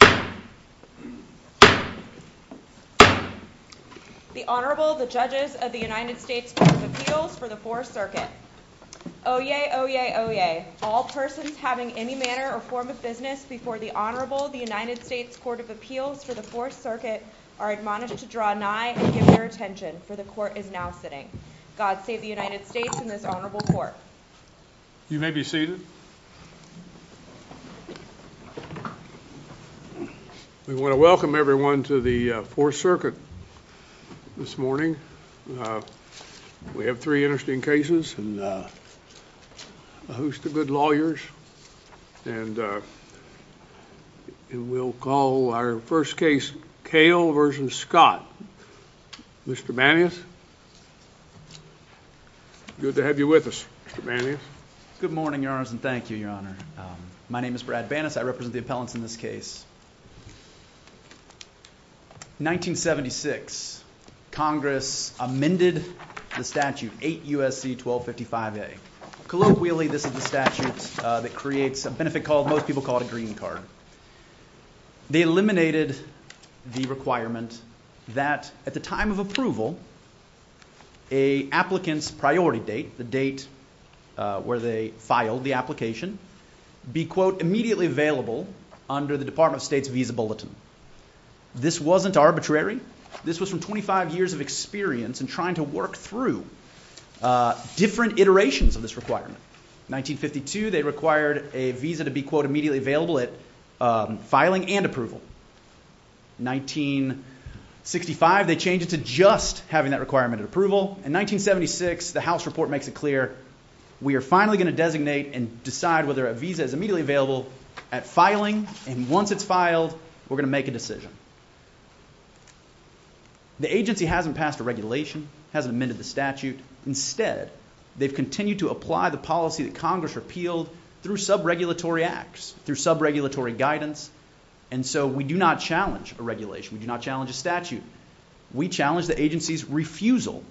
The Honorable, the Judges of the United States Court of Appeals for the Fourth Circuit. Oyez! Oyez! Oyez! All persons having any manner or form of business before the Honorable, the United States Court of Appeals for the Fourth Circuit are admonished to draw nigh and give their attention, for the Court is now sitting. God save the United States and this Honorable Court. You may be seated. We want to welcome everyone to the Fourth Circuit this morning. We have three interesting cases and a host of good lawyers. And we'll call our first case, Kale v. Scott. Mr. Bannius. Good to have you with us, Mr. Bannius. Good morning, Your Honors, and thank you, Your Honor. My name is Brad Bannus. I represent the appellants in this case. 1976, Congress amended the statute, 8 U.S.C. 1255A. Colloquially, this is the statute that creates a benefit called, most people call it a green card. They eliminated the requirement that, at the time of approval, a applicant's priority date, the date where they filed the application, be, quote, immediately available under the Department of State's visa bulletin. This wasn't arbitrary. This was from 25 years of experience in trying to work through different iterations of this requirement. 1952, they required a visa to be, quote, immediately available at filing and approval. 1965, they changed it to just having that requirement at approval. In 1976, the House report makes it clear, we are finally going to designate and decide whether a visa is immediately available at filing, and once it's filed, we're going to make a decision. The agency hasn't passed a regulation, hasn't amended the statute. Instead, they've continued to apply the policy that Congress repealed through sub-regulatory acts, through sub-regulatory guidance, and so we do not challenge a regulation. We do not challenge a statute. We challenge the agency's refusal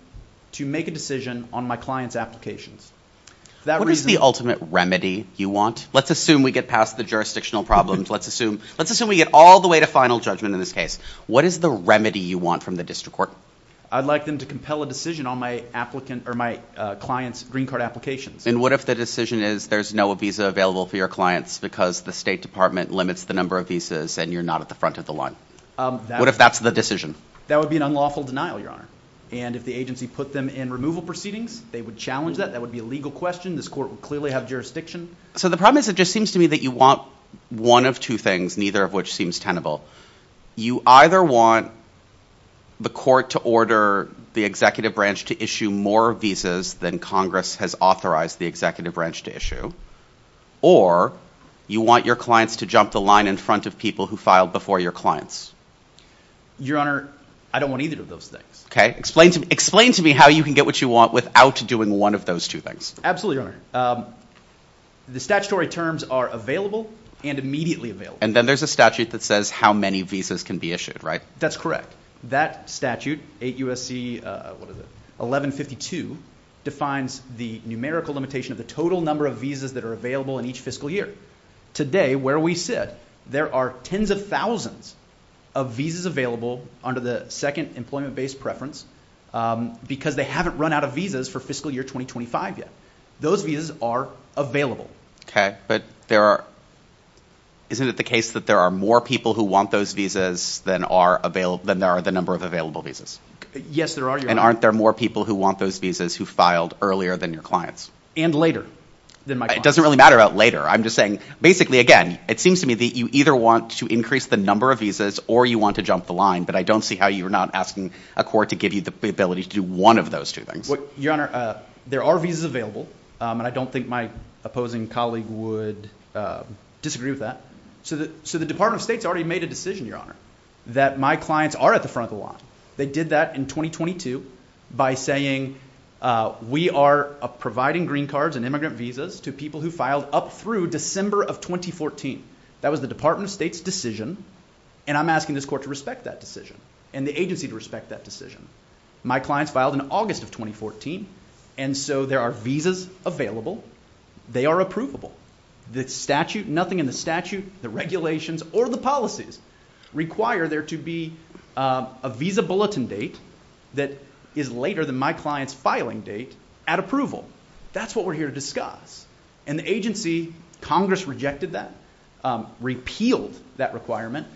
to make a decision on my client's applications. What is the ultimate remedy you want? Let's assume we get past the jurisdictional problems. Let's assume we get all the way to final judgment in this case. What is the remedy you want from the district court? I'd like them to compel a decision on my client's green card applications. And what if the decision is there's no visa available for your clients because the State Department limits the number of visas and you're not at the front of the line? What if that's the decision? That would be an unlawful denial, Your Honor, and if the agency put them in removal proceedings, they would challenge that. That would be a legal question. This court would clearly have jurisdiction. So the problem is it just seems to me that you want one of two things, neither of which seems tenable. You either want the court to order the executive branch to issue more visas than Congress has authorized the executive branch to issue, or you want your clients to jump the line in front of people who filed before your clients. Your Honor, I don't want either of those things. Okay. Explain to me how you can get what you want without doing one of those two things. Absolutely, Your Honor. The statutory terms are available and immediately available. And then there's a statute that says how many visas can be issued, right? That's correct. That statute, 8 U.S.C. 1152, defines the numerical limitation of the total number of visas that are available in each fiscal year. Today, where we sit, there are tens of thousands of visas available under the second employment-based preference because they haven't run out of visas for fiscal year 2025 yet. Those visas are available. Okay, but isn't it the case that there are more people who want those visas than there are the number of available visas? Yes, there are, Your Honor. And aren't there more people who want those visas who filed earlier than your clients? And later than my clients. It doesn't really matter about later. I'm just saying, basically, again, it seems to me that you either want to increase the number of visas or you want to jump the line, but I don't see how you're not asking a court to give you the ability to do one of those two things. Your Honor, there are visas available, and I don't think my opposing colleague would disagree with that. So the Department of State has already made a decision, Your Honor, that my clients are at the front of the line. They did that in 2022 by saying, we are providing green cards and immigrant visas to people who filed up through December of 2014. That was the Department of State's decision, and I'm asking this court to respect that decision and the agency to respect that decision. My clients filed in August of 2014, and so there are visas available. They are approvable. The statute, nothing in the statute, the regulations, or the policies require there to be a visa bulletin date that is later than my client's filing date at approval. That's what we're here to discuss. And the agency, Congress rejected that, repealed that requirement.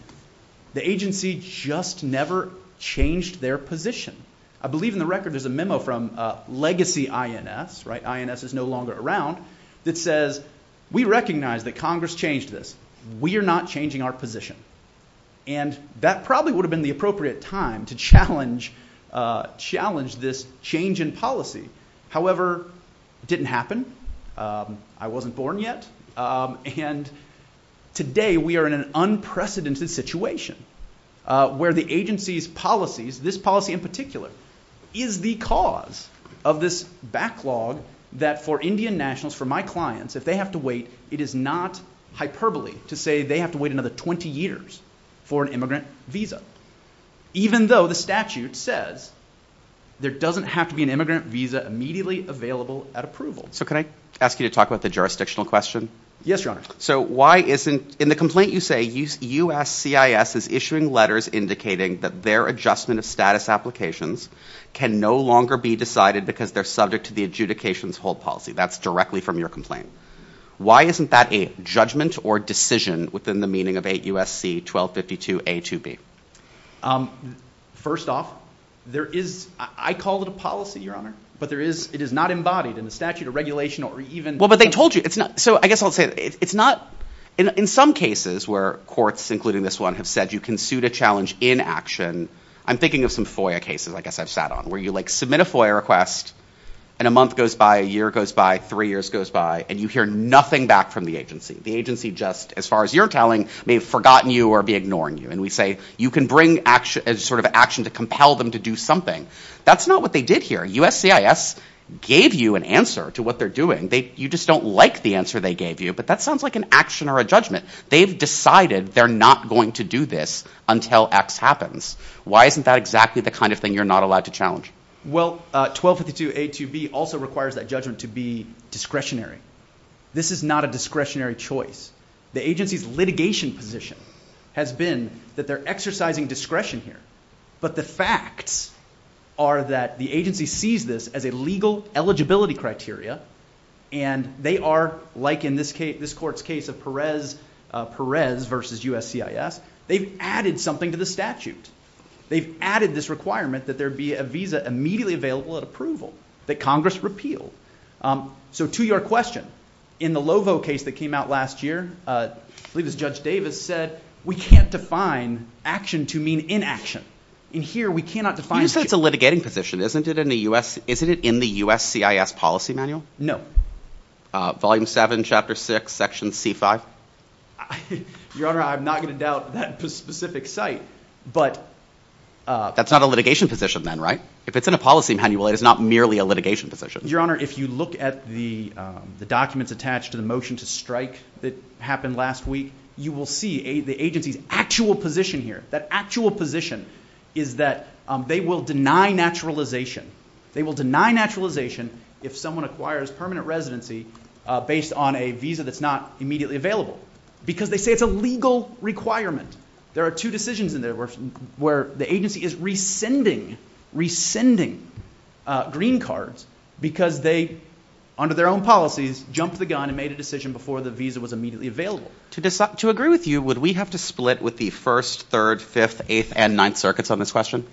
The agency just never changed their position. I believe in the record there's a memo from legacy INS, right? INS is no longer around, that says, we recognize that Congress changed this. We are not changing our position. And that probably would have been the appropriate time to challenge this change in policy. However, it didn't happen. I wasn't born yet. And today we are in an unprecedented situation where the agency's policies, this policy in particular, is the cause of this backlog that for Indian nationals, for my clients, if they have to wait, it is not hyperbole to say they have to wait another 20 years for an immigrant visa, even though the statute says there doesn't have to be an immigrant visa immediately available at approval. So can I ask you to talk about the jurisdictional question? Yes, Your Honor. So why isn't, in the complaint you say, USCIS is issuing letters indicating that their adjustment of status applications can no longer be decided because they're subject to the adjudications hold policy. That's directly from your complaint. Why isn't that a judgment or decision within the meaning of 8 U.S.C. 1252A2B? First off, there is, I call it a policy, Your Honor, but there is, it is not embodied in the statute or regulation or even. Well, but they told you. So I guess I'll say it's not. In some cases where courts, including this one, have said you can suit a challenge in action, I'm thinking of some FOIA cases I guess I've sat on where you submit a FOIA request and a month goes by, a year goes by, three years goes by, and you hear nothing back from the agency. The agency just, as far as you're telling, may have forgotten you or be ignoring you, and we say you can bring action to compel them to do something. That's not what they did here. USCIS gave you an answer to what they're doing. You just don't like the answer they gave you, but that sounds like an action or a judgment. They've decided they're not going to do this until X happens. Why isn't that exactly the kind of thing you're not allowed to challenge? Well, 1252A2B also requires that judgment to be discretionary. This is not a discretionary choice. The agency's litigation position has been that they're exercising discretion here, but the facts are that the agency sees this as a legal eligibility criteria, and they are, like in this court's case of Perez v. USCIS, they've added something to the statute. They've added this requirement that there be a visa immediately available at approval that Congress repealed. So to your question, in the Lovo case that came out last year, I believe it was Judge Davis said, we can't define action to mean inaction. In here, we cannot define... But you said it's a litigating position. Isn't it in the USCIS policy manual? No. Volume 7, Chapter 6, Section C5? Your Honor, I'm not going to doubt that specific site, but... That's not a litigation position then, right? If it's in a policy manual, it is not merely a litigation position. Your Honor, if you look at the documents attached to the motion to strike that happened last week, you will see the agency's actual position here. That actual position is that they will deny naturalization. They will deny naturalization if someone acquires permanent residency based on a visa that's not immediately available, because they say it's a legal requirement. There are two decisions in there where the agency is rescinding green cards because they, under their own policies, jumped the gun and made a decision before the visa was immediately available. To agree with you, would we have to split with the 1st, 3rd, 5th, 8th, and 9th circuits on this question?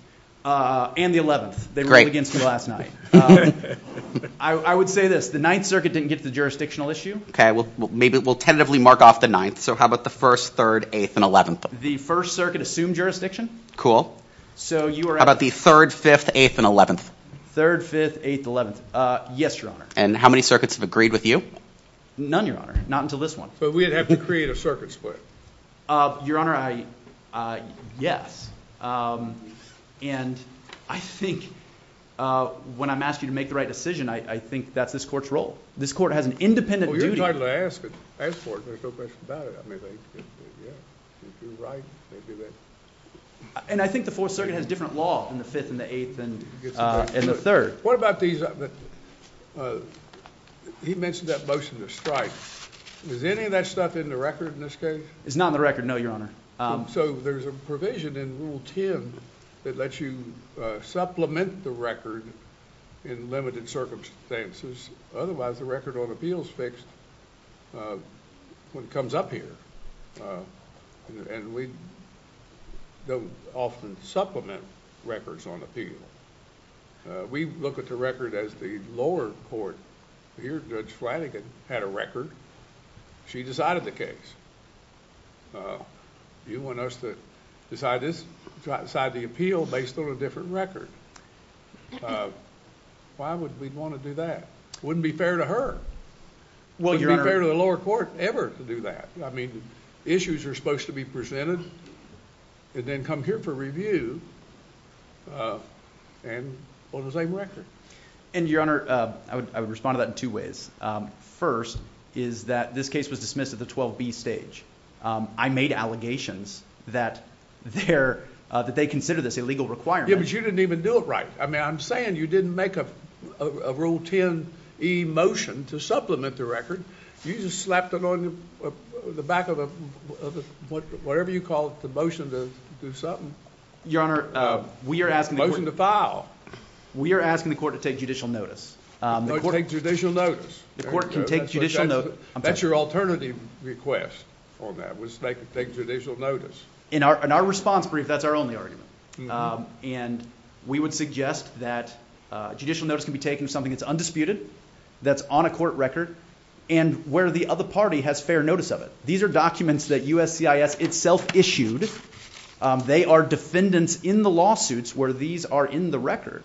And the 11th. They ruled against me last night. I would say this. The 9th circuit didn't get to the jurisdictional issue. Okay, well, maybe we'll tentatively mark off the 9th. So how about the 1st, 3rd, 8th, and 11th? The 1st circuit assumed jurisdiction. Cool. How about the 3rd, 5th, 8th, and 11th? 3rd, 5th, 8th, 11th. Yes, Your Honor. And how many circuits have agreed with you? None, Your Honor. Not until this one. So we'd have to create a circuit split. Your Honor, yes. And I think when I'm asking you to make the right decision, I think that's this court's role. This court has an independent duty. Well, you're entitled to ask for it. There's no question about it. I mean, yeah, if you're right, they'd do that. And I think the 4th circuit has a different law than the 5th and the 8th and the 3rd. What about these? He mentioned that motion to strike. Is any of that stuff in the record in this case? It's not in the record, no, Your Honor. So there's a provision in Rule 10 that lets you supplement the record in limited circumstances. Otherwise, the record on appeal is fixed when it comes up here. And we don't often supplement records on appeal. We look at the record as the lower court. Here, Judge Flanagan had a record. She decided the case. You want us to decide the appeal based on a different record. Why would we want to do that? It wouldn't be fair to her. It wouldn't be fair to the lower court ever to do that. I mean, issues are supposed to be presented and then come here for review on the same record. And, Your Honor, I would respond to that in two ways. First is that this case was dismissed at the 12B stage. I made allegations that they consider this a legal requirement. Yeah, but you didn't even do it right. I mean, I'm saying you didn't make a Rule 10e motion to supplement the record. You just slapped it on the back of whatever you call it, the motion to do something. Your Honor, we are asking the question... Motion to file. We are asking the court to take judicial notice. Take judicial notice. The court can take judicial notice. That's your alternative request on that, was to take judicial notice. In our response brief, that's our only argument. And we would suggest that judicial notice can be taken of something that's undisputed, that's on a court record, and where the other party has fair notice of it. These are documents that USCIS itself issued. They are defendants in the lawsuits where these are in the record.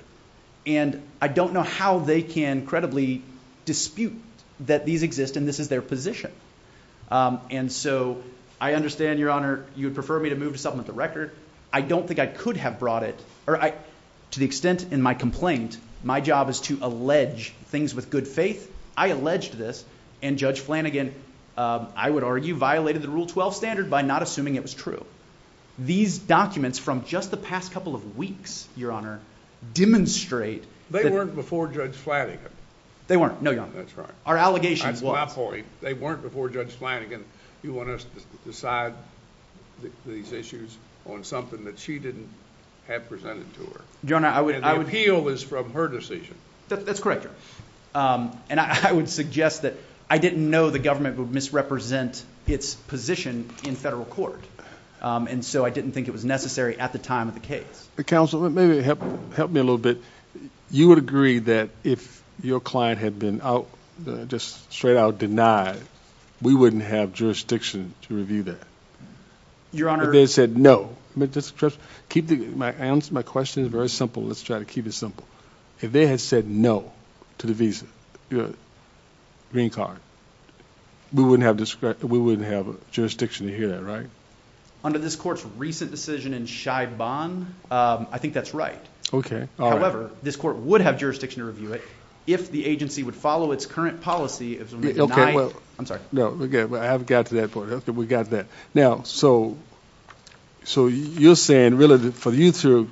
And I don't know how they can credibly dispute that these exist and this is their position. And so I understand, Your Honor, you would prefer me to move to supplement the record. I don't think I could have brought it. To the extent in my complaint, my job is to allege things with good faith. I alleged this, and Judge Flanagan, I would argue, violated the Rule 12 standard by not assuming it was true. These documents from just the past couple of weeks, Your Honor, demonstrate that... They weren't before Judge Flanagan. They weren't, no, Your Honor. That's right. Our allegations was... I'm sorry, they weren't before Judge Flanagan. You want us to decide these issues on something that she didn't have presented to her. Your Honor, I would... And the appeal is from her decision. That's correct, Your Honor. And I would suggest that I didn't know the government would misrepresent its position in federal court. And so I didn't think it was necessary at the time of the case. Counsel, maybe help me a little bit. You would agree that if your client had been out, just straight out denied, we wouldn't have jurisdiction to review that? Your Honor... If they said no. My question is very simple. Let's try to keep it simple. If they had said no to the visa, green card, we wouldn't have jurisdiction to hear that, right? Under this court's recent decision in Scheibon, I think that's right. Okay, all right. However, this court would have jurisdiction to review it if the agency would follow its current policy... Okay, well... I'm sorry. No, we're good. I haven't got to that point. We got that. Now, so you're saying, really, for you to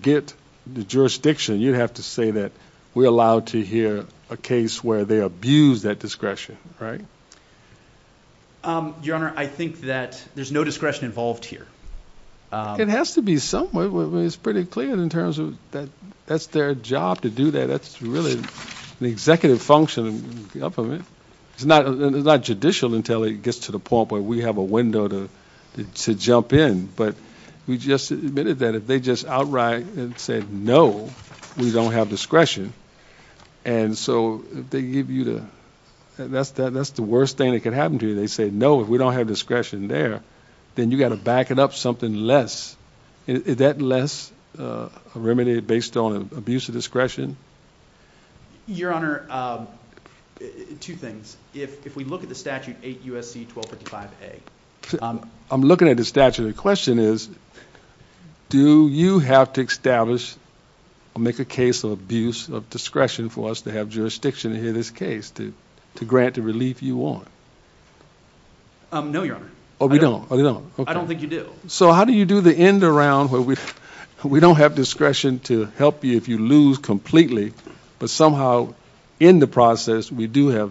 get the jurisdiction, you'd have to say that we're allowed to hear a case where they abused that discretion, right? Your Honor, I think that there's no discretion involved here. It has to be somewhere. It's pretty clear in terms of that's their job to do that. That's really the executive function of the government. It's not judicial until it gets to the point where we have a window to jump in, but we just admitted that if they just outright said no, we don't have discretion, and so if they give you the... That's the worst thing that could happen to you. They say, no, if we don't have discretion there, then you got to back it up something less. Is that less remedied based on abuse of discretion? Your Honor, two things. If we look at the statute 8 U.S.C. 1255A... I'm looking at the statute. The question is, do you have to establish or make a case of abuse of discretion for us to have jurisdiction to hear this case, to grant the relief you want? No, Your Honor. Oh, we don't? I don't think you do. So how do you do the end around where we don't have discretion to help you if you lose completely, but somehow in the process we do have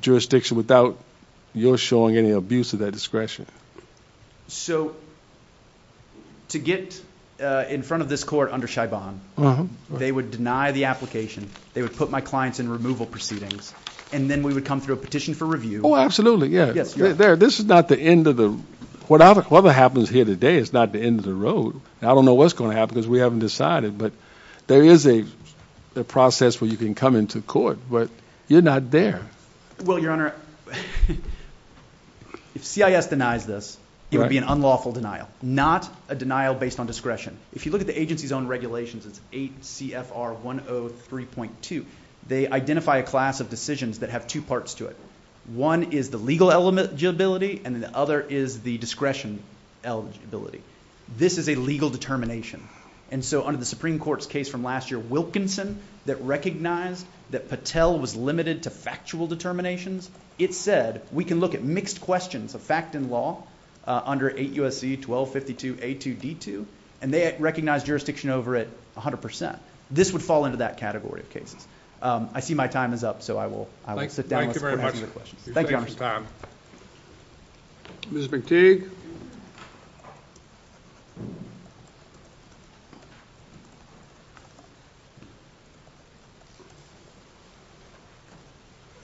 jurisdiction without your showing any abuse of that discretion? So to get in front of this court under Chabon, they would deny the application. They would put my clients in removal proceedings, and then we would come through a petition for review. Oh, absolutely, yeah. This is not the end of the... Whatever happens here today is not the end of the road. I don't know what's going to happen because we haven't decided, but there is a process where you can come into court, but you're not there. Well, Your Honor, if CIS denies this, it would be an unlawful denial, not a denial based on discretion. If you look at the agency's own regulations, it's 8 CFR 103.2. They identify a class of decisions that have two parts to it. One is the legal eligibility, and then the other is the discretion eligibility. This is a legal determination. And so under the Supreme Court's case from last year, Wilkinson, that recognized that Patel was limited to factual determinations, it said we can look at mixed questions of fact and law under 8 USC 1252A2D2, and they recognized jurisdiction over it 100%. This would fall into that category of cases. I see my time is up, so I will sit down. Thank you very much. Thank you, Your Honor. Ms. McTeague.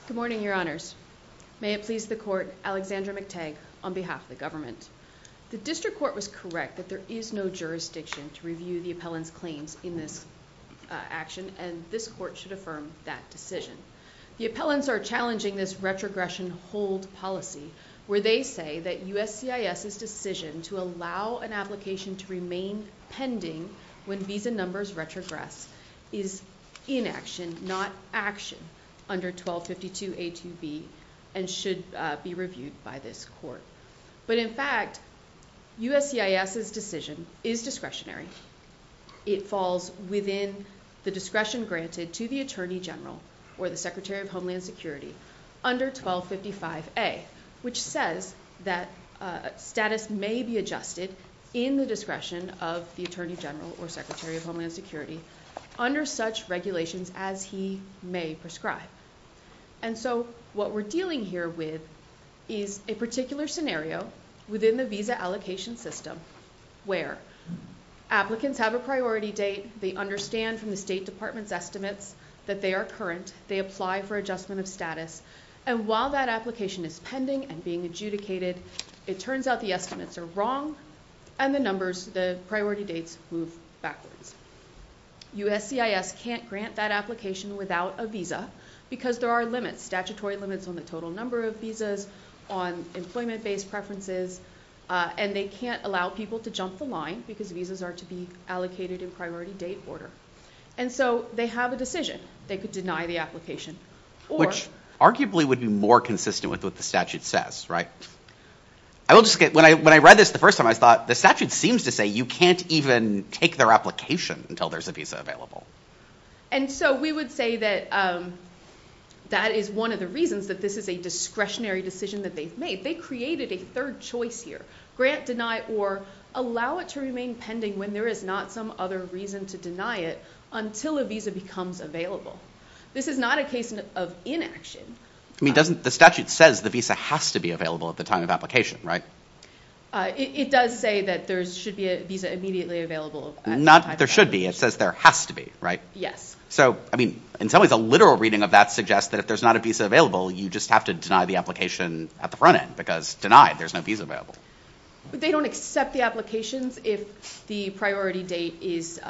Good morning, Your Honors. May it please the court, Alexandra McTeague on behalf of the government. The district court was correct that there is no jurisdiction to review the appellant's claims in this action, and this court should affirm that decision. The appellants are challenging this retrogression hold policy where they say that USCIS's decision to allow an application to remain pending when visa numbers retrogress is inaction, not action under 1252A2B and should be reviewed by this court. But in fact, USCIS's decision is discretionary. It falls within the discretion granted to the Attorney General or the Secretary of Homeland Security under 1255A, which says that status may be adjusted in the discretion of the Attorney General or Secretary of Homeland Security under such regulations as he may prescribe. And so what we're dealing here with is a particular scenario within the visa allocation system where applicants have a priority date, they understand from the State Department's estimates that they are current, they apply for adjustment of status, and while that application is pending and being adjudicated, it turns out the estimates are wrong and the numbers, the priority dates, move backwards. USCIS can't grant that application without a visa, because there are limits, statutory limits on the total number of visas, on employment-based preferences, and they can't allow people to jump the line because visas are to be allocated in priority date order. And so they have a decision. They could deny the application or... Which arguably would be more consistent with what the statute says, right? When I read this the first time, I thought, the statute seems to say you can't even take their application until there's a visa available. And so we would say that that is one of the reasons that this is a discretionary decision that they've made. They created a third choice here. Grant, deny, or allow it to remain pending when there is not some other reason to deny it until a visa becomes available. This is not a case of inaction. I mean, doesn't the statute say the visa has to be available at the time of application, right? It does say that there should be a visa immediately available. Not that there should be. It says there has to be, right? Yes. So, I mean, in some ways, a literal reading of that suggests that if there's not a visa available, you just have to deny the application at the front end because, denied, there's no visa available. But they don't accept the applications if the priority date is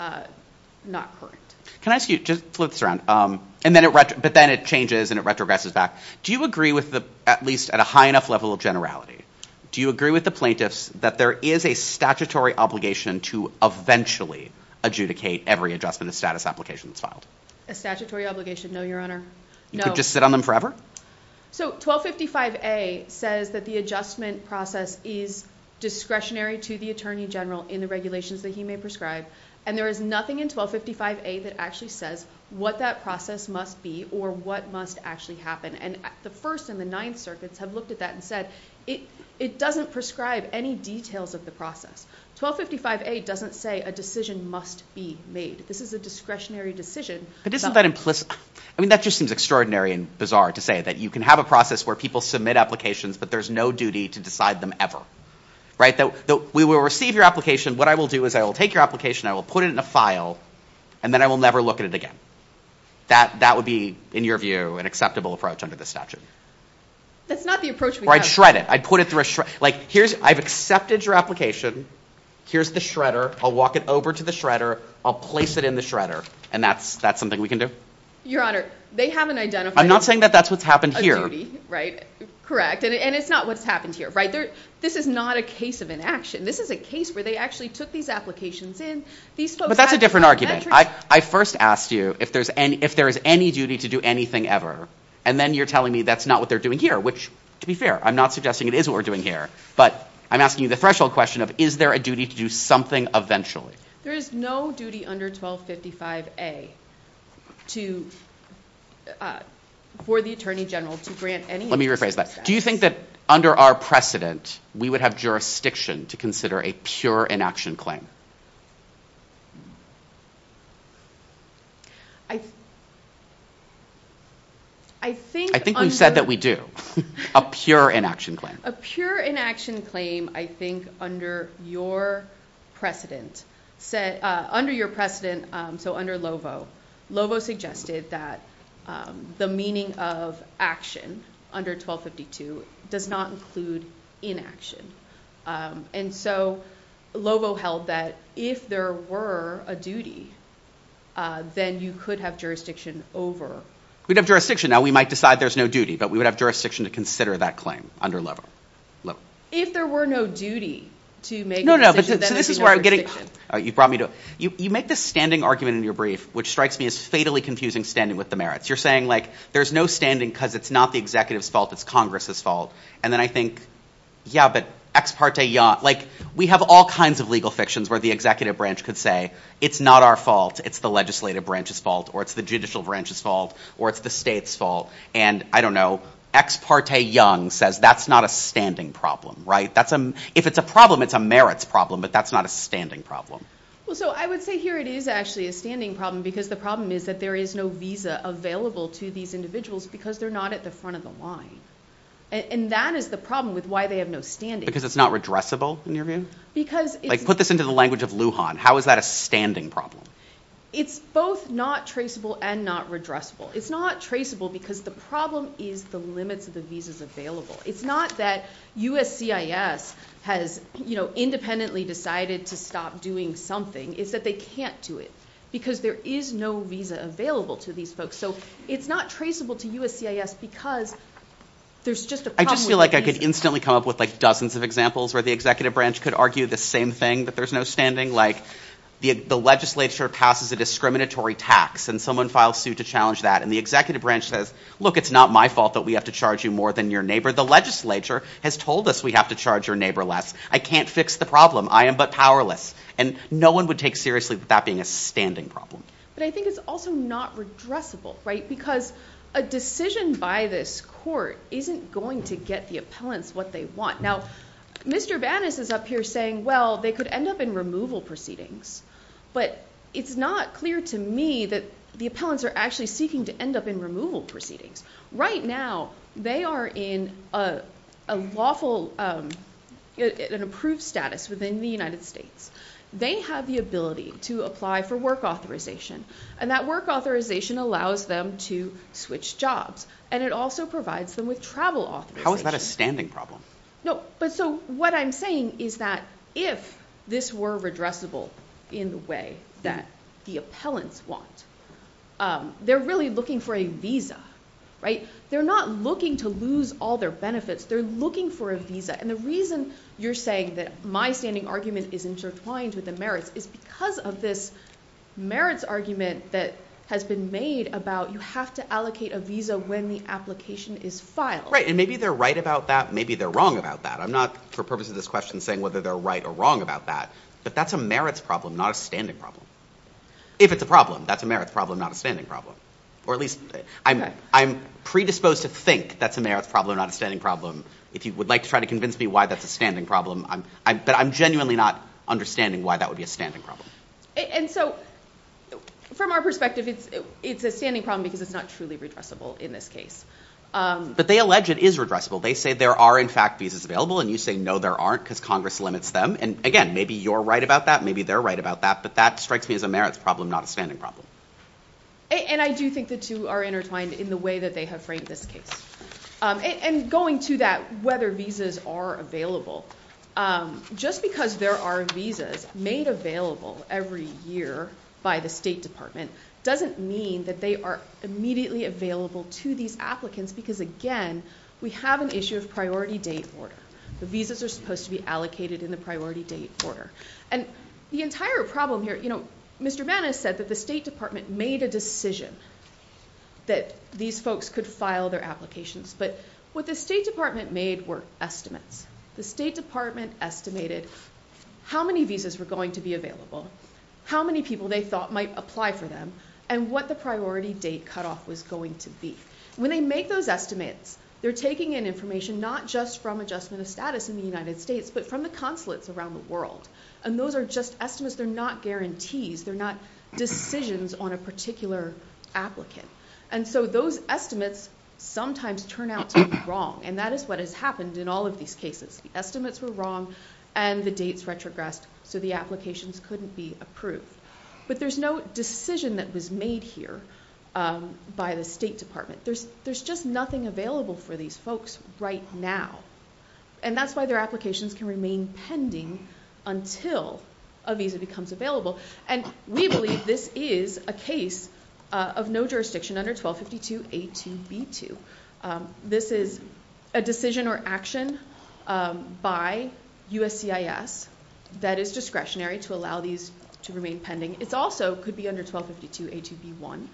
not current. Can I ask you, just flip this around, but then it changes and it retrogresses back. Do you agree with, at least at a high enough level of generality, do you agree with the plaintiffs that there is a statutory obligation to eventually adjudicate every adjustment of status application that's filed? A statutory obligation? No, Your Honor. You could just sit on them forever? So, 1255A says that the adjustment process is discretionary to the Attorney General in the regulations that he may prescribe, and there is nothing in 1255A that actually says what that process must be or what must actually happen. And the First and the Ninth Circuits have looked at that and said, it doesn't prescribe any details of the process. 1255A doesn't say a decision must be made. This is a discretionary decision. But isn't that implicit? I mean, that just seems extraordinary and bizarre to say that you can have a process where people submit applications but there's no duty to decide them ever. Right? We will receive your application. What I will do is I will take your application, I will put it in a file, and then I will never look at it again. That would be, in your view, an acceptable approach under the statute. That's not the approach we have. Or I'd shred it. I'd put it through a shredder. I've accepted your application. Here's the shredder. I'll walk it over to the shredder. I'll place it in the shredder. And that's something we can do? Your Honor, they haven't identified a duty. I'm not saying that that's what's happened here. Correct. And it's not what's happened here. This is not a case of inaction. This is a case where they actually took these applications in. But that's a different argument. I first asked you if there is any duty to do anything ever. And then you're telling me that's not what they're doing here, which, to be fair, I'm not suggesting it is what we're doing here. But I'm asking you the threshold question of is there a duty to do something eventually. There is no duty under 1255A for the Attorney General to grant any... Let me rephrase that. Do you think that under our precedent we would have jurisdiction to consider a pure inaction claim? I... I think... I think we've said that we do. A pure inaction claim. A pure inaction claim, I think, under your precedent... Under your precedent, so under LOVO, LOVO suggested that the meaning of action under 1252 does not include inaction. And so LOVO held that if there were a duty, then you could have jurisdiction over... We'd have jurisdiction. Now, we might decide there's no duty, but we would have jurisdiction to consider that claim under LOVO. If there were no duty to make a decision, then there's no jurisdiction. You make this standing argument in your brief which strikes me as fatally confusing standing with the merits. You're saying, like, there's no standing because it's not the executive's fault, it's Congress's fault. And then I think, yeah, but ex parte... We have all kinds of legal fictions where the executive branch could say, it's not our fault, it's the legislative branch's fault, or it's the judicial branch's fault, or it's the state's fault. And, I don't know, ex parte Young says that's not a standing problem, right? If it's a problem, it's a merits problem, but that's not a standing problem. So I would say here it is actually a standing problem because the problem is that there is no visa available to these individuals because they're not at the front of the line. And that is the problem with why they have no standing. Because it's not redressable, in your view? Like, put this into the language of Lujan. How is that a standing problem? It's both not traceable and not redressable. It's not traceable because the problem is the limits of the visas available. It's not that USCIS has, you know, independently decided to stop doing something. It's that they can't do it because there is no visa available to these folks. So it's not traceable to USCIS because there's just a problem with the visa. I just feel like I could instantly come up with dozens of examples where the executive branch could argue the same thing, that there's no standing. Like, the legislature passes a discriminatory tax and someone files suit to challenge that. And the executive branch says, look, it's not my fault that we have to charge you more than your neighbor. The legislature has told us we have to charge your neighbor less. I can't fix the problem. I am but powerless. And no one would take seriously that being a standing problem. But I think it's also not redressable, right? Because a decision by this court isn't going to get the appellants what they want. Now, Mr. Banas is up here saying, well, they could end up in removal proceedings. But it's not clear to me that the appellants are actually seeking to end up in removal proceedings. Right now they are in a lawful and approved status within the United States. They have the ability to apply for work authorization. And that work authorization allows them to switch jobs. And it also provides them with travel authorization. How is that a standing problem? No, but so what I'm saying is that if this were redressable in the way that the appellants want, they're really looking for a visa, right? They're not looking to lose all their benefits. They're looking for a visa. And the reason you're saying that my standing argument is intertwined with the merits is because of this merits argument that has been made about you have to allocate a visa when the application is filed. Right. And maybe they're right about that. Maybe they're wrong about that. I'm not, for purposes of this question, saying whether they're right or wrong about that. But that's a merits problem, not a standing problem. If it's a problem, that's a merits problem, not a standing problem. Or at least I'm predisposed to think that's a merits problem, not a standing problem. If you would like to try to convince me why that's a standing problem, but I'm genuinely not understanding why that would be a standing problem. And so from our perspective, it's a standing problem because it's not truly redressable in this case. But they allege it is redressable. They say there are, in fact, visas available. And you say, no, there aren't because Congress limits them. And again, maybe you're right about that. Maybe they're right about that. But that strikes me as a merits problem, not a standing problem. And I do think the two are intertwined in the way that they have framed this case. And going to that, whether visas are available, just because there are visas made available every year by the State Department, doesn't mean that they are immediately available to these applicants because, again, we have an issue of priority date order. The visas are supposed to be allocated in the priority date order. And the entire problem here, you know, Mr. Mann has said that the State Department made a decision that these folks could file their applications. But what the State Department made were estimates. The State Department estimated how many visas were going to be available, how many people they thought might apply for them, and what the priority date cutoff was going to be. When they make those estimates, they're taking in information not just from adjustment of status in the United States, but from the consulates around the world. And those are just estimates. They're not guarantees. They're not decisions on a particular applicant. And so those estimates sometimes turn out to be wrong. And that is what has happened in all of these cases. The estimates were wrong, and the dates retrogressed, so the applications couldn't be approved. But there's no decision that was made here by the State Department. There's just nothing available for these folks right now. And that's why their applications can remain pending until a visa becomes available. And we believe this is a case of no jurisdiction under 1252 A2B2. This is a decision or action by USCIS that is discretionary to allow these to remain pending. It also could be under 1252 A2B1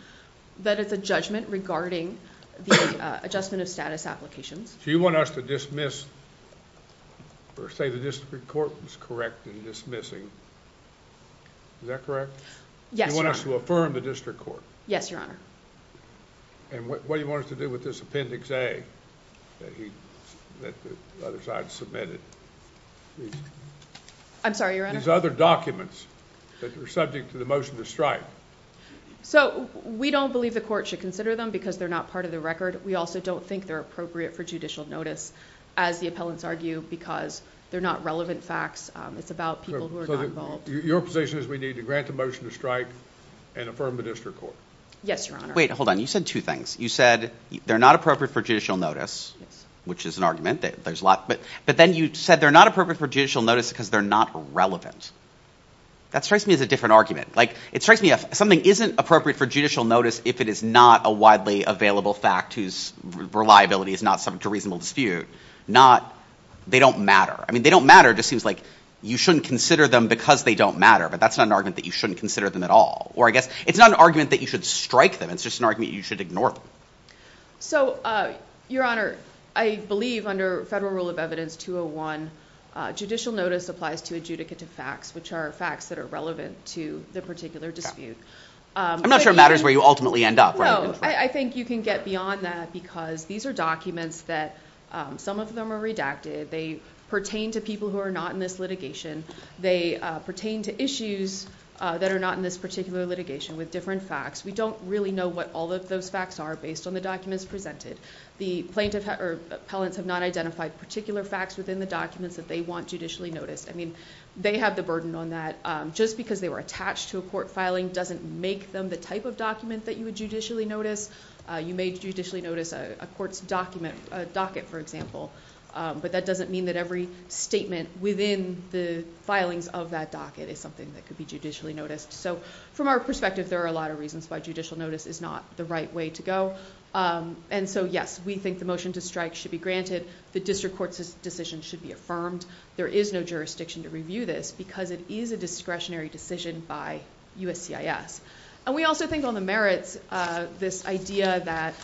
that it's a judgment regarding the adjustment of status applications. So you want us to dismiss or say the District Court was correct in dismissing. Is that correct? You want us to affirm the District Court? Yes, Your Honor. And what do you want us to do with this Appendix A that the other side submitted? I'm sorry, Your Honor? These other documents that are subject to the motion to strike. So we don't believe the Court should consider them because they're not part of the record. We also don't think they're appropriate for judicial notice as the appellants argue because they're not relevant facts. It's about people who are not involved. Your position is we need to grant the motion to strike and affirm the District Court. Yes, Your Honor. You said they're not appropriate for judicial notice which is an argument. But then you said they're not appropriate for judicial notice because they're not relevant. That strikes me as a different argument. It strikes me as if something isn't appropriate for judicial notice if it is not a widely available fact whose reliability is not subject to reasonable dispute. They don't matter. They don't matter just seems like you shouldn't consider them because they don't matter. But that's not an argument that you shouldn't consider them at all. Or I guess it's not an argument that you should strike them. It's just an argument that you should ignore them. So, Your Honor, I believe under Federal Rule of Evidence 201, judicial notice applies to adjudicate to facts which are facts that are relevant to the particular dispute. I'm not sure it matters where you ultimately end up. I think you can get beyond that because these are documents that some of them are redacted. They pertain to people who are not in this litigation. They pertain to issues that are not in this particular litigation with different facts. We don't really know what all of those facts are based on the documents presented. The plaintiff or appellants have not identified particular facts within the documents that they want judicially noticed. I mean, they have the burden on that. Just because they were attached to a court filing doesn't make them the type of document that you would judicially notice. You may judicially notice a court's docket, for example. But that doesn't mean that every statement within the filings of that docket is something that could be judicially noticed. From our perspective, there are a lot of reasons why judicial notice is not the right way to go. Yes, we think the motion to strike should be granted. The district court's decision should be affirmed. There is no jurisdiction to review this because it is a discretionary decision by USCIS. We also think on the merits, this idea that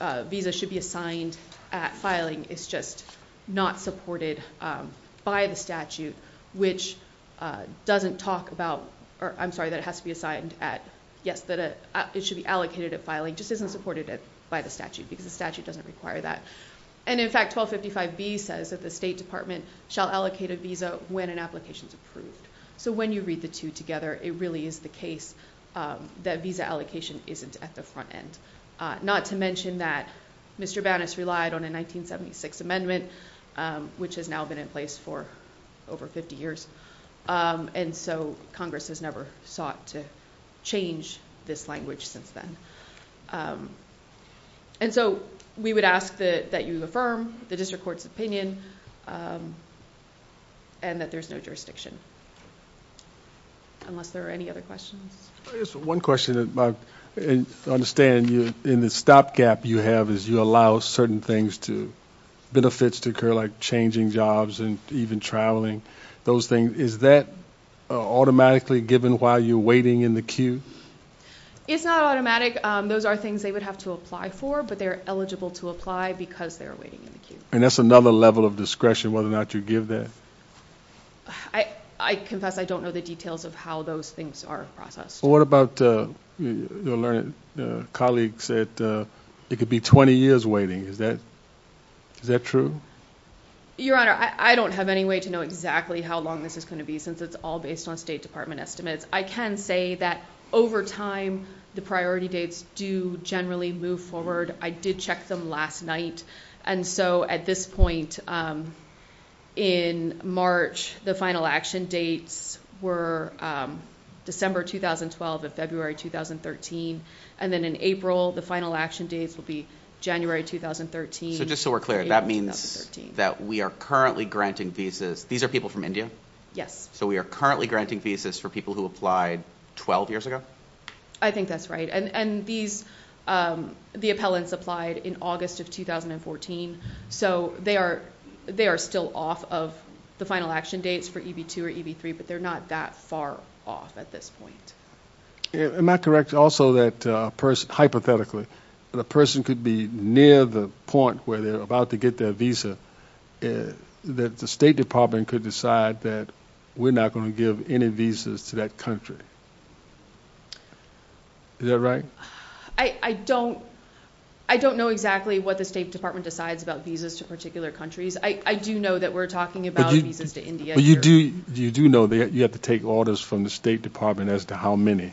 a visa should be assigned at filing is just not supported by the statute, which doesn't talk about, I'm sorry, that it has to be assigned at, yes, that it should be allocated at filing. It just isn't supported by the statute because the statute doesn't require that. And in fact, 1255B says that the State Department shall allocate a visa when an application is approved. So when you read the two together, it really is the case that visa allocation isn't at the front end. Not to mention that Mr. Bannis relied on a 1976 amendment, which has now been in place for over 50 years. And so Congress has never sought to change this language since then. And so, we would ask that you affirm the district court's opinion and that there's no jurisdiction. Unless there are any other questions. I understand in the stopgap you have is you allow certain things to benefits to occur, like changing jobs and even traveling. Those things, is that automatically given while you're waiting in the queue? It's not automatic. Those are things they would have to apply for, but they're eligible to apply because they're waiting in the queue. And that's another level of discretion, whether or not you give that. I confess I don't know the details of how those things are processed. What about colleagues that it could be 20 years waiting. Is that true? Your Honor, I don't have any way to know exactly how long this is going to be, since it's all based on State Department estimates. I can say that over time the priority dates do generally move forward. I did check them last night. And so at this point in March, the final action dates were December 2012 and February 2013. And then in April, the final action dates will be January 2013. So just so we're clear, that means that we are currently granting visas. These are people from India? Yes. So we are currently granting visas for people who applied 12 years ago? I think that's right. And these the appellants applied in August of 2014. So they are still off of the final action dates for EB2 or EB3, but they're not that far off at this point. Am I correct also that a person, hypothetically, a person could be near the point where they're about to get their visa that the State Department could decide that we're not going to give any visas to that country? Is that right? I don't know exactly what the State Department decides about visas to particular countries. I do know that we're talking about visas to India. But you do know that you have to take orders from the State Department as to how many.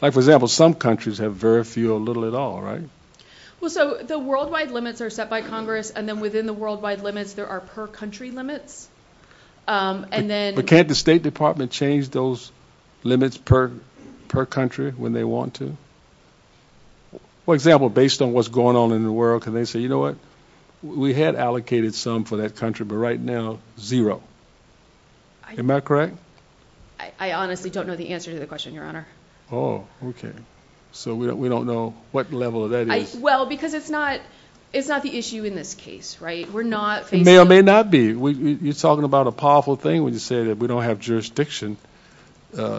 Like, for example, some countries have very few or little at all, right? Well, so the worldwide limits are set by Congress, and then within the worldwide limits, there are per-country limits. But can't the State Department change those limits per country when they want to? For example, based on what's going on in the world, can they say, you know what, we had allocated some for that country, but right now, zero. Am I correct? I honestly don't know the answer to the question, Your Honor. Oh, okay. So we don't know what level that is. Well, because it's not the issue in this case, right? It may or may not be. You're talking about a powerful thing when you say that we don't have jurisdiction. You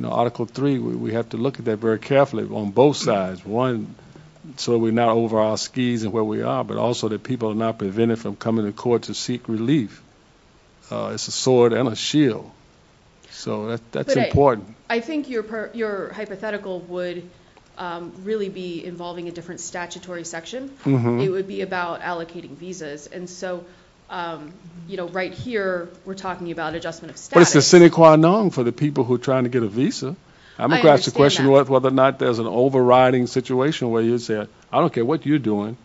know, Article 3, we have to look at that very carefully on both sides. One, so we're not over our skis and where we are, but also that people are not prevented from coming to court to seek relief. It's a sword and a shield. So that's important. I think your hypothetical would really be involving a different statutory section. It would be about allocating visas. And so, you know, right here, we're talking about adjustment of status. But it's the sine qua non for the people who are trying to get a visa. I'm about to ask the question whether or not there's an overriding situation where you say, I don't care what you're doing,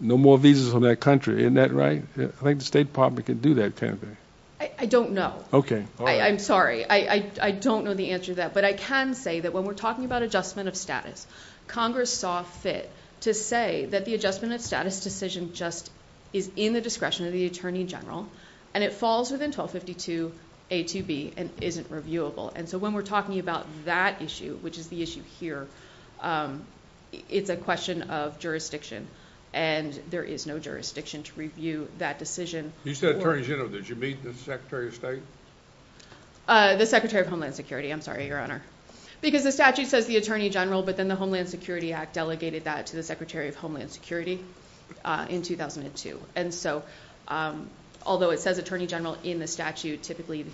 no more visas from that country. Isn't that right? I think the State Department can do that, can't they? I don't know. I'm sorry. I don't know the answer to that. But I can say that when we're talking about adjustment of status, Congress saw fit to say that the adjustment of status decision just is in the discretion of the Attorney General and it falls within 1252 A to B and isn't reviewable. And so when we're talking about that issue, which is the issue here, it's a question of jurisdiction. And there is no jurisdiction to review that decision. You said Attorney General. Did you meet the Secretary of State? The Secretary of Homeland Security. I'm sorry, Your Honor. Because the statute says the Attorney General, but then the Homeland Security Act delegated that to the Secretary of Homeland Security in 2002. And so, although it says Attorney General in the statute, typically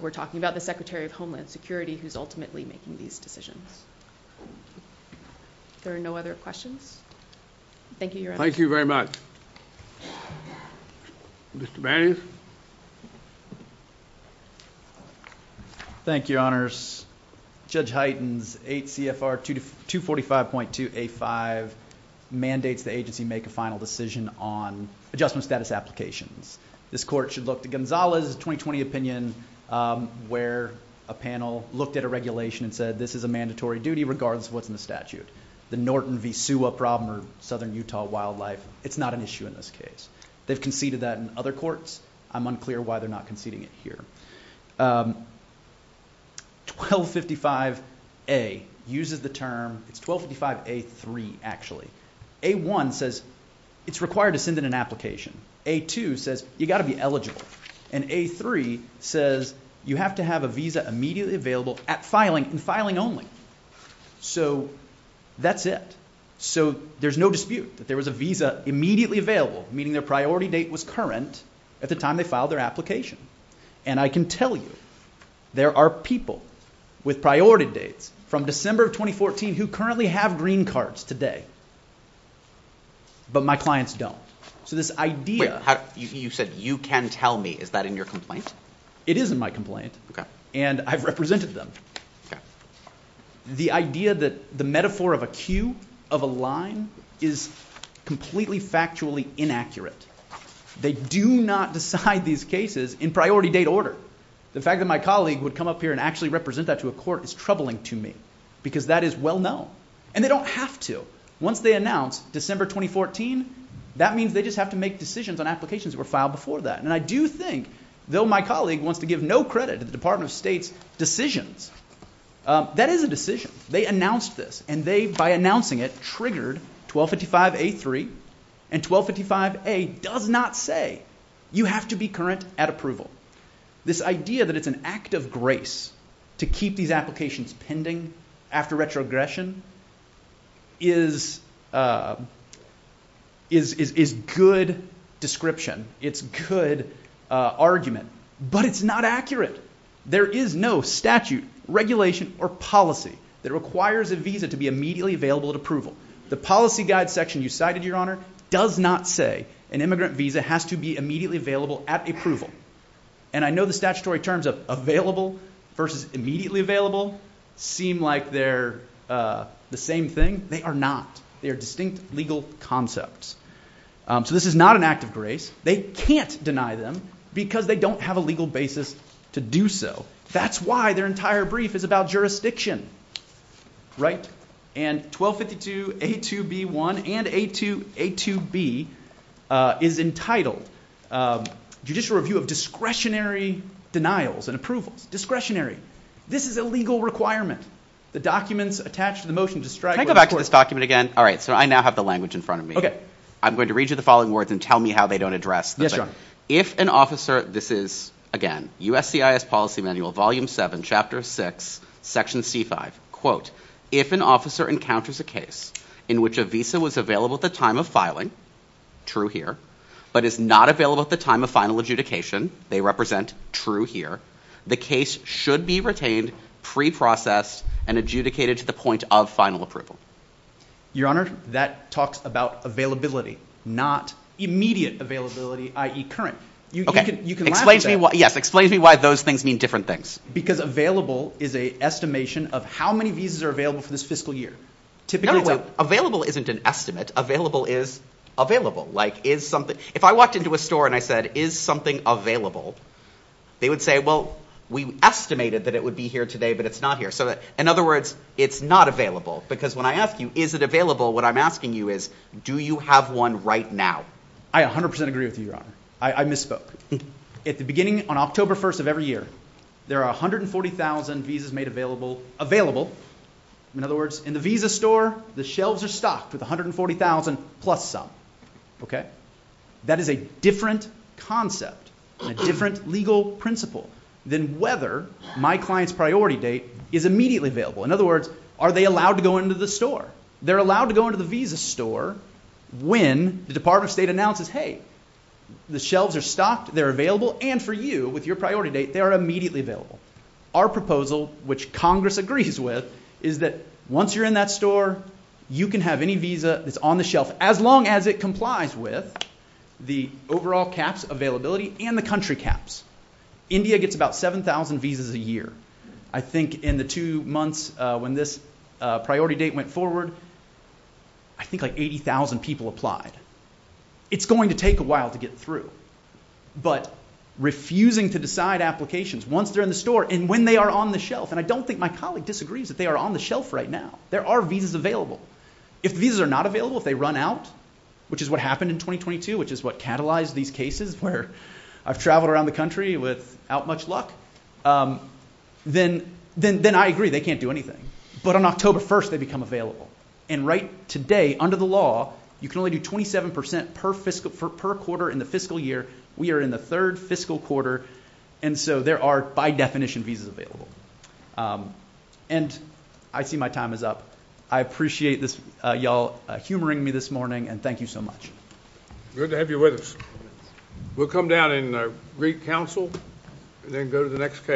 we're talking about the Secretary of Homeland Security who's ultimately making these decisions. There are no other questions? Thank you, Your Honor. Thank you very much. Mr. Bannon. Thank you, Your Honors. Judge Hyten's 8 CFR 245.2 A5 mandates the agency make a final decision on adjustment status applications. This court should look to Gonzales' 2020 opinion where a panel looked at a regulation and said, this is a mandatory duty regardless of what's in the statute. The Norton v. Sewa problem or Southern Utah wildlife, it's not an issue in this case. They've conceded that in other courts. I'm unclear why they're not conceding it here. 1255 A uses the term, it's 1255 A3 actually. A1 says it's required to send in an application. A2 says you've got to be eligible. And A3 says you have to have a visa immediately available at filing and filing only. So that's it. So there's no dispute that there was a visa immediately available, meaning their priority date was current at the time they filed their application. And I can tell you there are people with priority dates from December 2014 who currently have green cards today. But my clients don't. So this idea Wait, you said you can tell me. Is that in your complaint? It is in my complaint. And I've represented them. The idea that the metaphor of a queue of a line is completely factually inaccurate. They do not decide these cases in priority date order. The fact that my colleague would come up here and actually represent that to a court is troubling to me because that is well known. And they don't have to. Once they announce December 2014 that means they just have to make decisions on applications that were filed before that. And I do think, though my colleague wants to give no credit to the Department of State's decisions, that is a decision. They announced this. And they, by announcing it, triggered 1255A3. And 1255A does not say you have to be current at approval. This idea that it's an act of grace to keep these applications pending after retrogression is is good description. It's good argument. But it's not accurate. There is no statute, regulation, or policy that requires a visa to be immediately available at approval. The policy guide section you cited, Your Honor, does not say an immigrant visa has to be immediately available at approval. And I know the statutory terms of available versus immediately available seem like they're the same thing. They are not. They are distinct legal concepts. So this is not an act of grace. They can't deny them because they don't have a legal basis to do so. That's why their entire brief is about jurisdiction. Right? And 1252A2B1 and A2B is entitled Judicial Review of Discretionary Denials and Approvals. Discretionary. This is a legal requirement. The documents attached to the motion describe... Can I go back to this document again? Alright, so I now have the language in front of me. I'm going to read you the following words and tell me how they don't address the thing. Yes, Your Honor. If an officer, this is, again, USCIS Policy Manual, Volume 7, Chapter 6, Section C5. Quote, if an officer encounters a case in which a visa was available at the time of filing, true here, but is not available at the time of final adjudication, they represent, true here, the case should be retained, pre-processed, and adjudicated to the point of final approval. Your Honor, that talks about availability, not immediate availability, i.e. current. You can laugh at that. Yes, explain to me why those things mean different things. Because available is an estimation of how many visas are available for this fiscal year. No, wait. Available isn't an estimate. Available is available. Like, if I walked into a store and I said, is something available? They would say, well, we estimated that it would be here today, but it's not here. So, in other words, it's not available. Because when I ask you, is it available, what I'm asking you is, do you have one right now? I 100% agree with you, Your Honor. I misspoke. At the beginning, on October 1st of every year, there are 140,000 visas made available, available. In other words, in the visa store, the shelves are stocked with 140,000 plus some. Okay? That is a different concept, a different legal principle, than whether my client's priority date is immediately available. In other words, are they allowed to go into the store? They're allowed to go into the visa store when the Department of State announces, hey, the shelves are stocked, they're available, and for you, with your priority date, they are immediately available. Our proposal, which Congress agrees with, is that once you're in that store, you can have any visa that's on the shelf, as long as it complies with the overall caps, availability, and the country caps. India gets about 7,000 visas a year. I think in the two months when this priority date went forward, I think like 80,000 people applied. It's going to take a while to get through. But refusing to decide applications once they're in the store and when they are on the shelf, and I don't think my colleague disagrees that they are on the shelf right now. There are visas available. If the visas are not available, if they run out, which is what happened in 2022, which is what catalyzed these cases where I've traveled around the country without much luck, then I agree, they can't do anything. But on October 1st, they become available. And right today, under the law, you can only do 27% per quarter in the fiscal year. We are in the third fiscal quarter, and so there are, by definition, visas available. And I see my time is up. I appreciate y'all humoring me this morning, and thank you so much. Good to have you with us. We'll come down and greet counsel, and then go to the next case.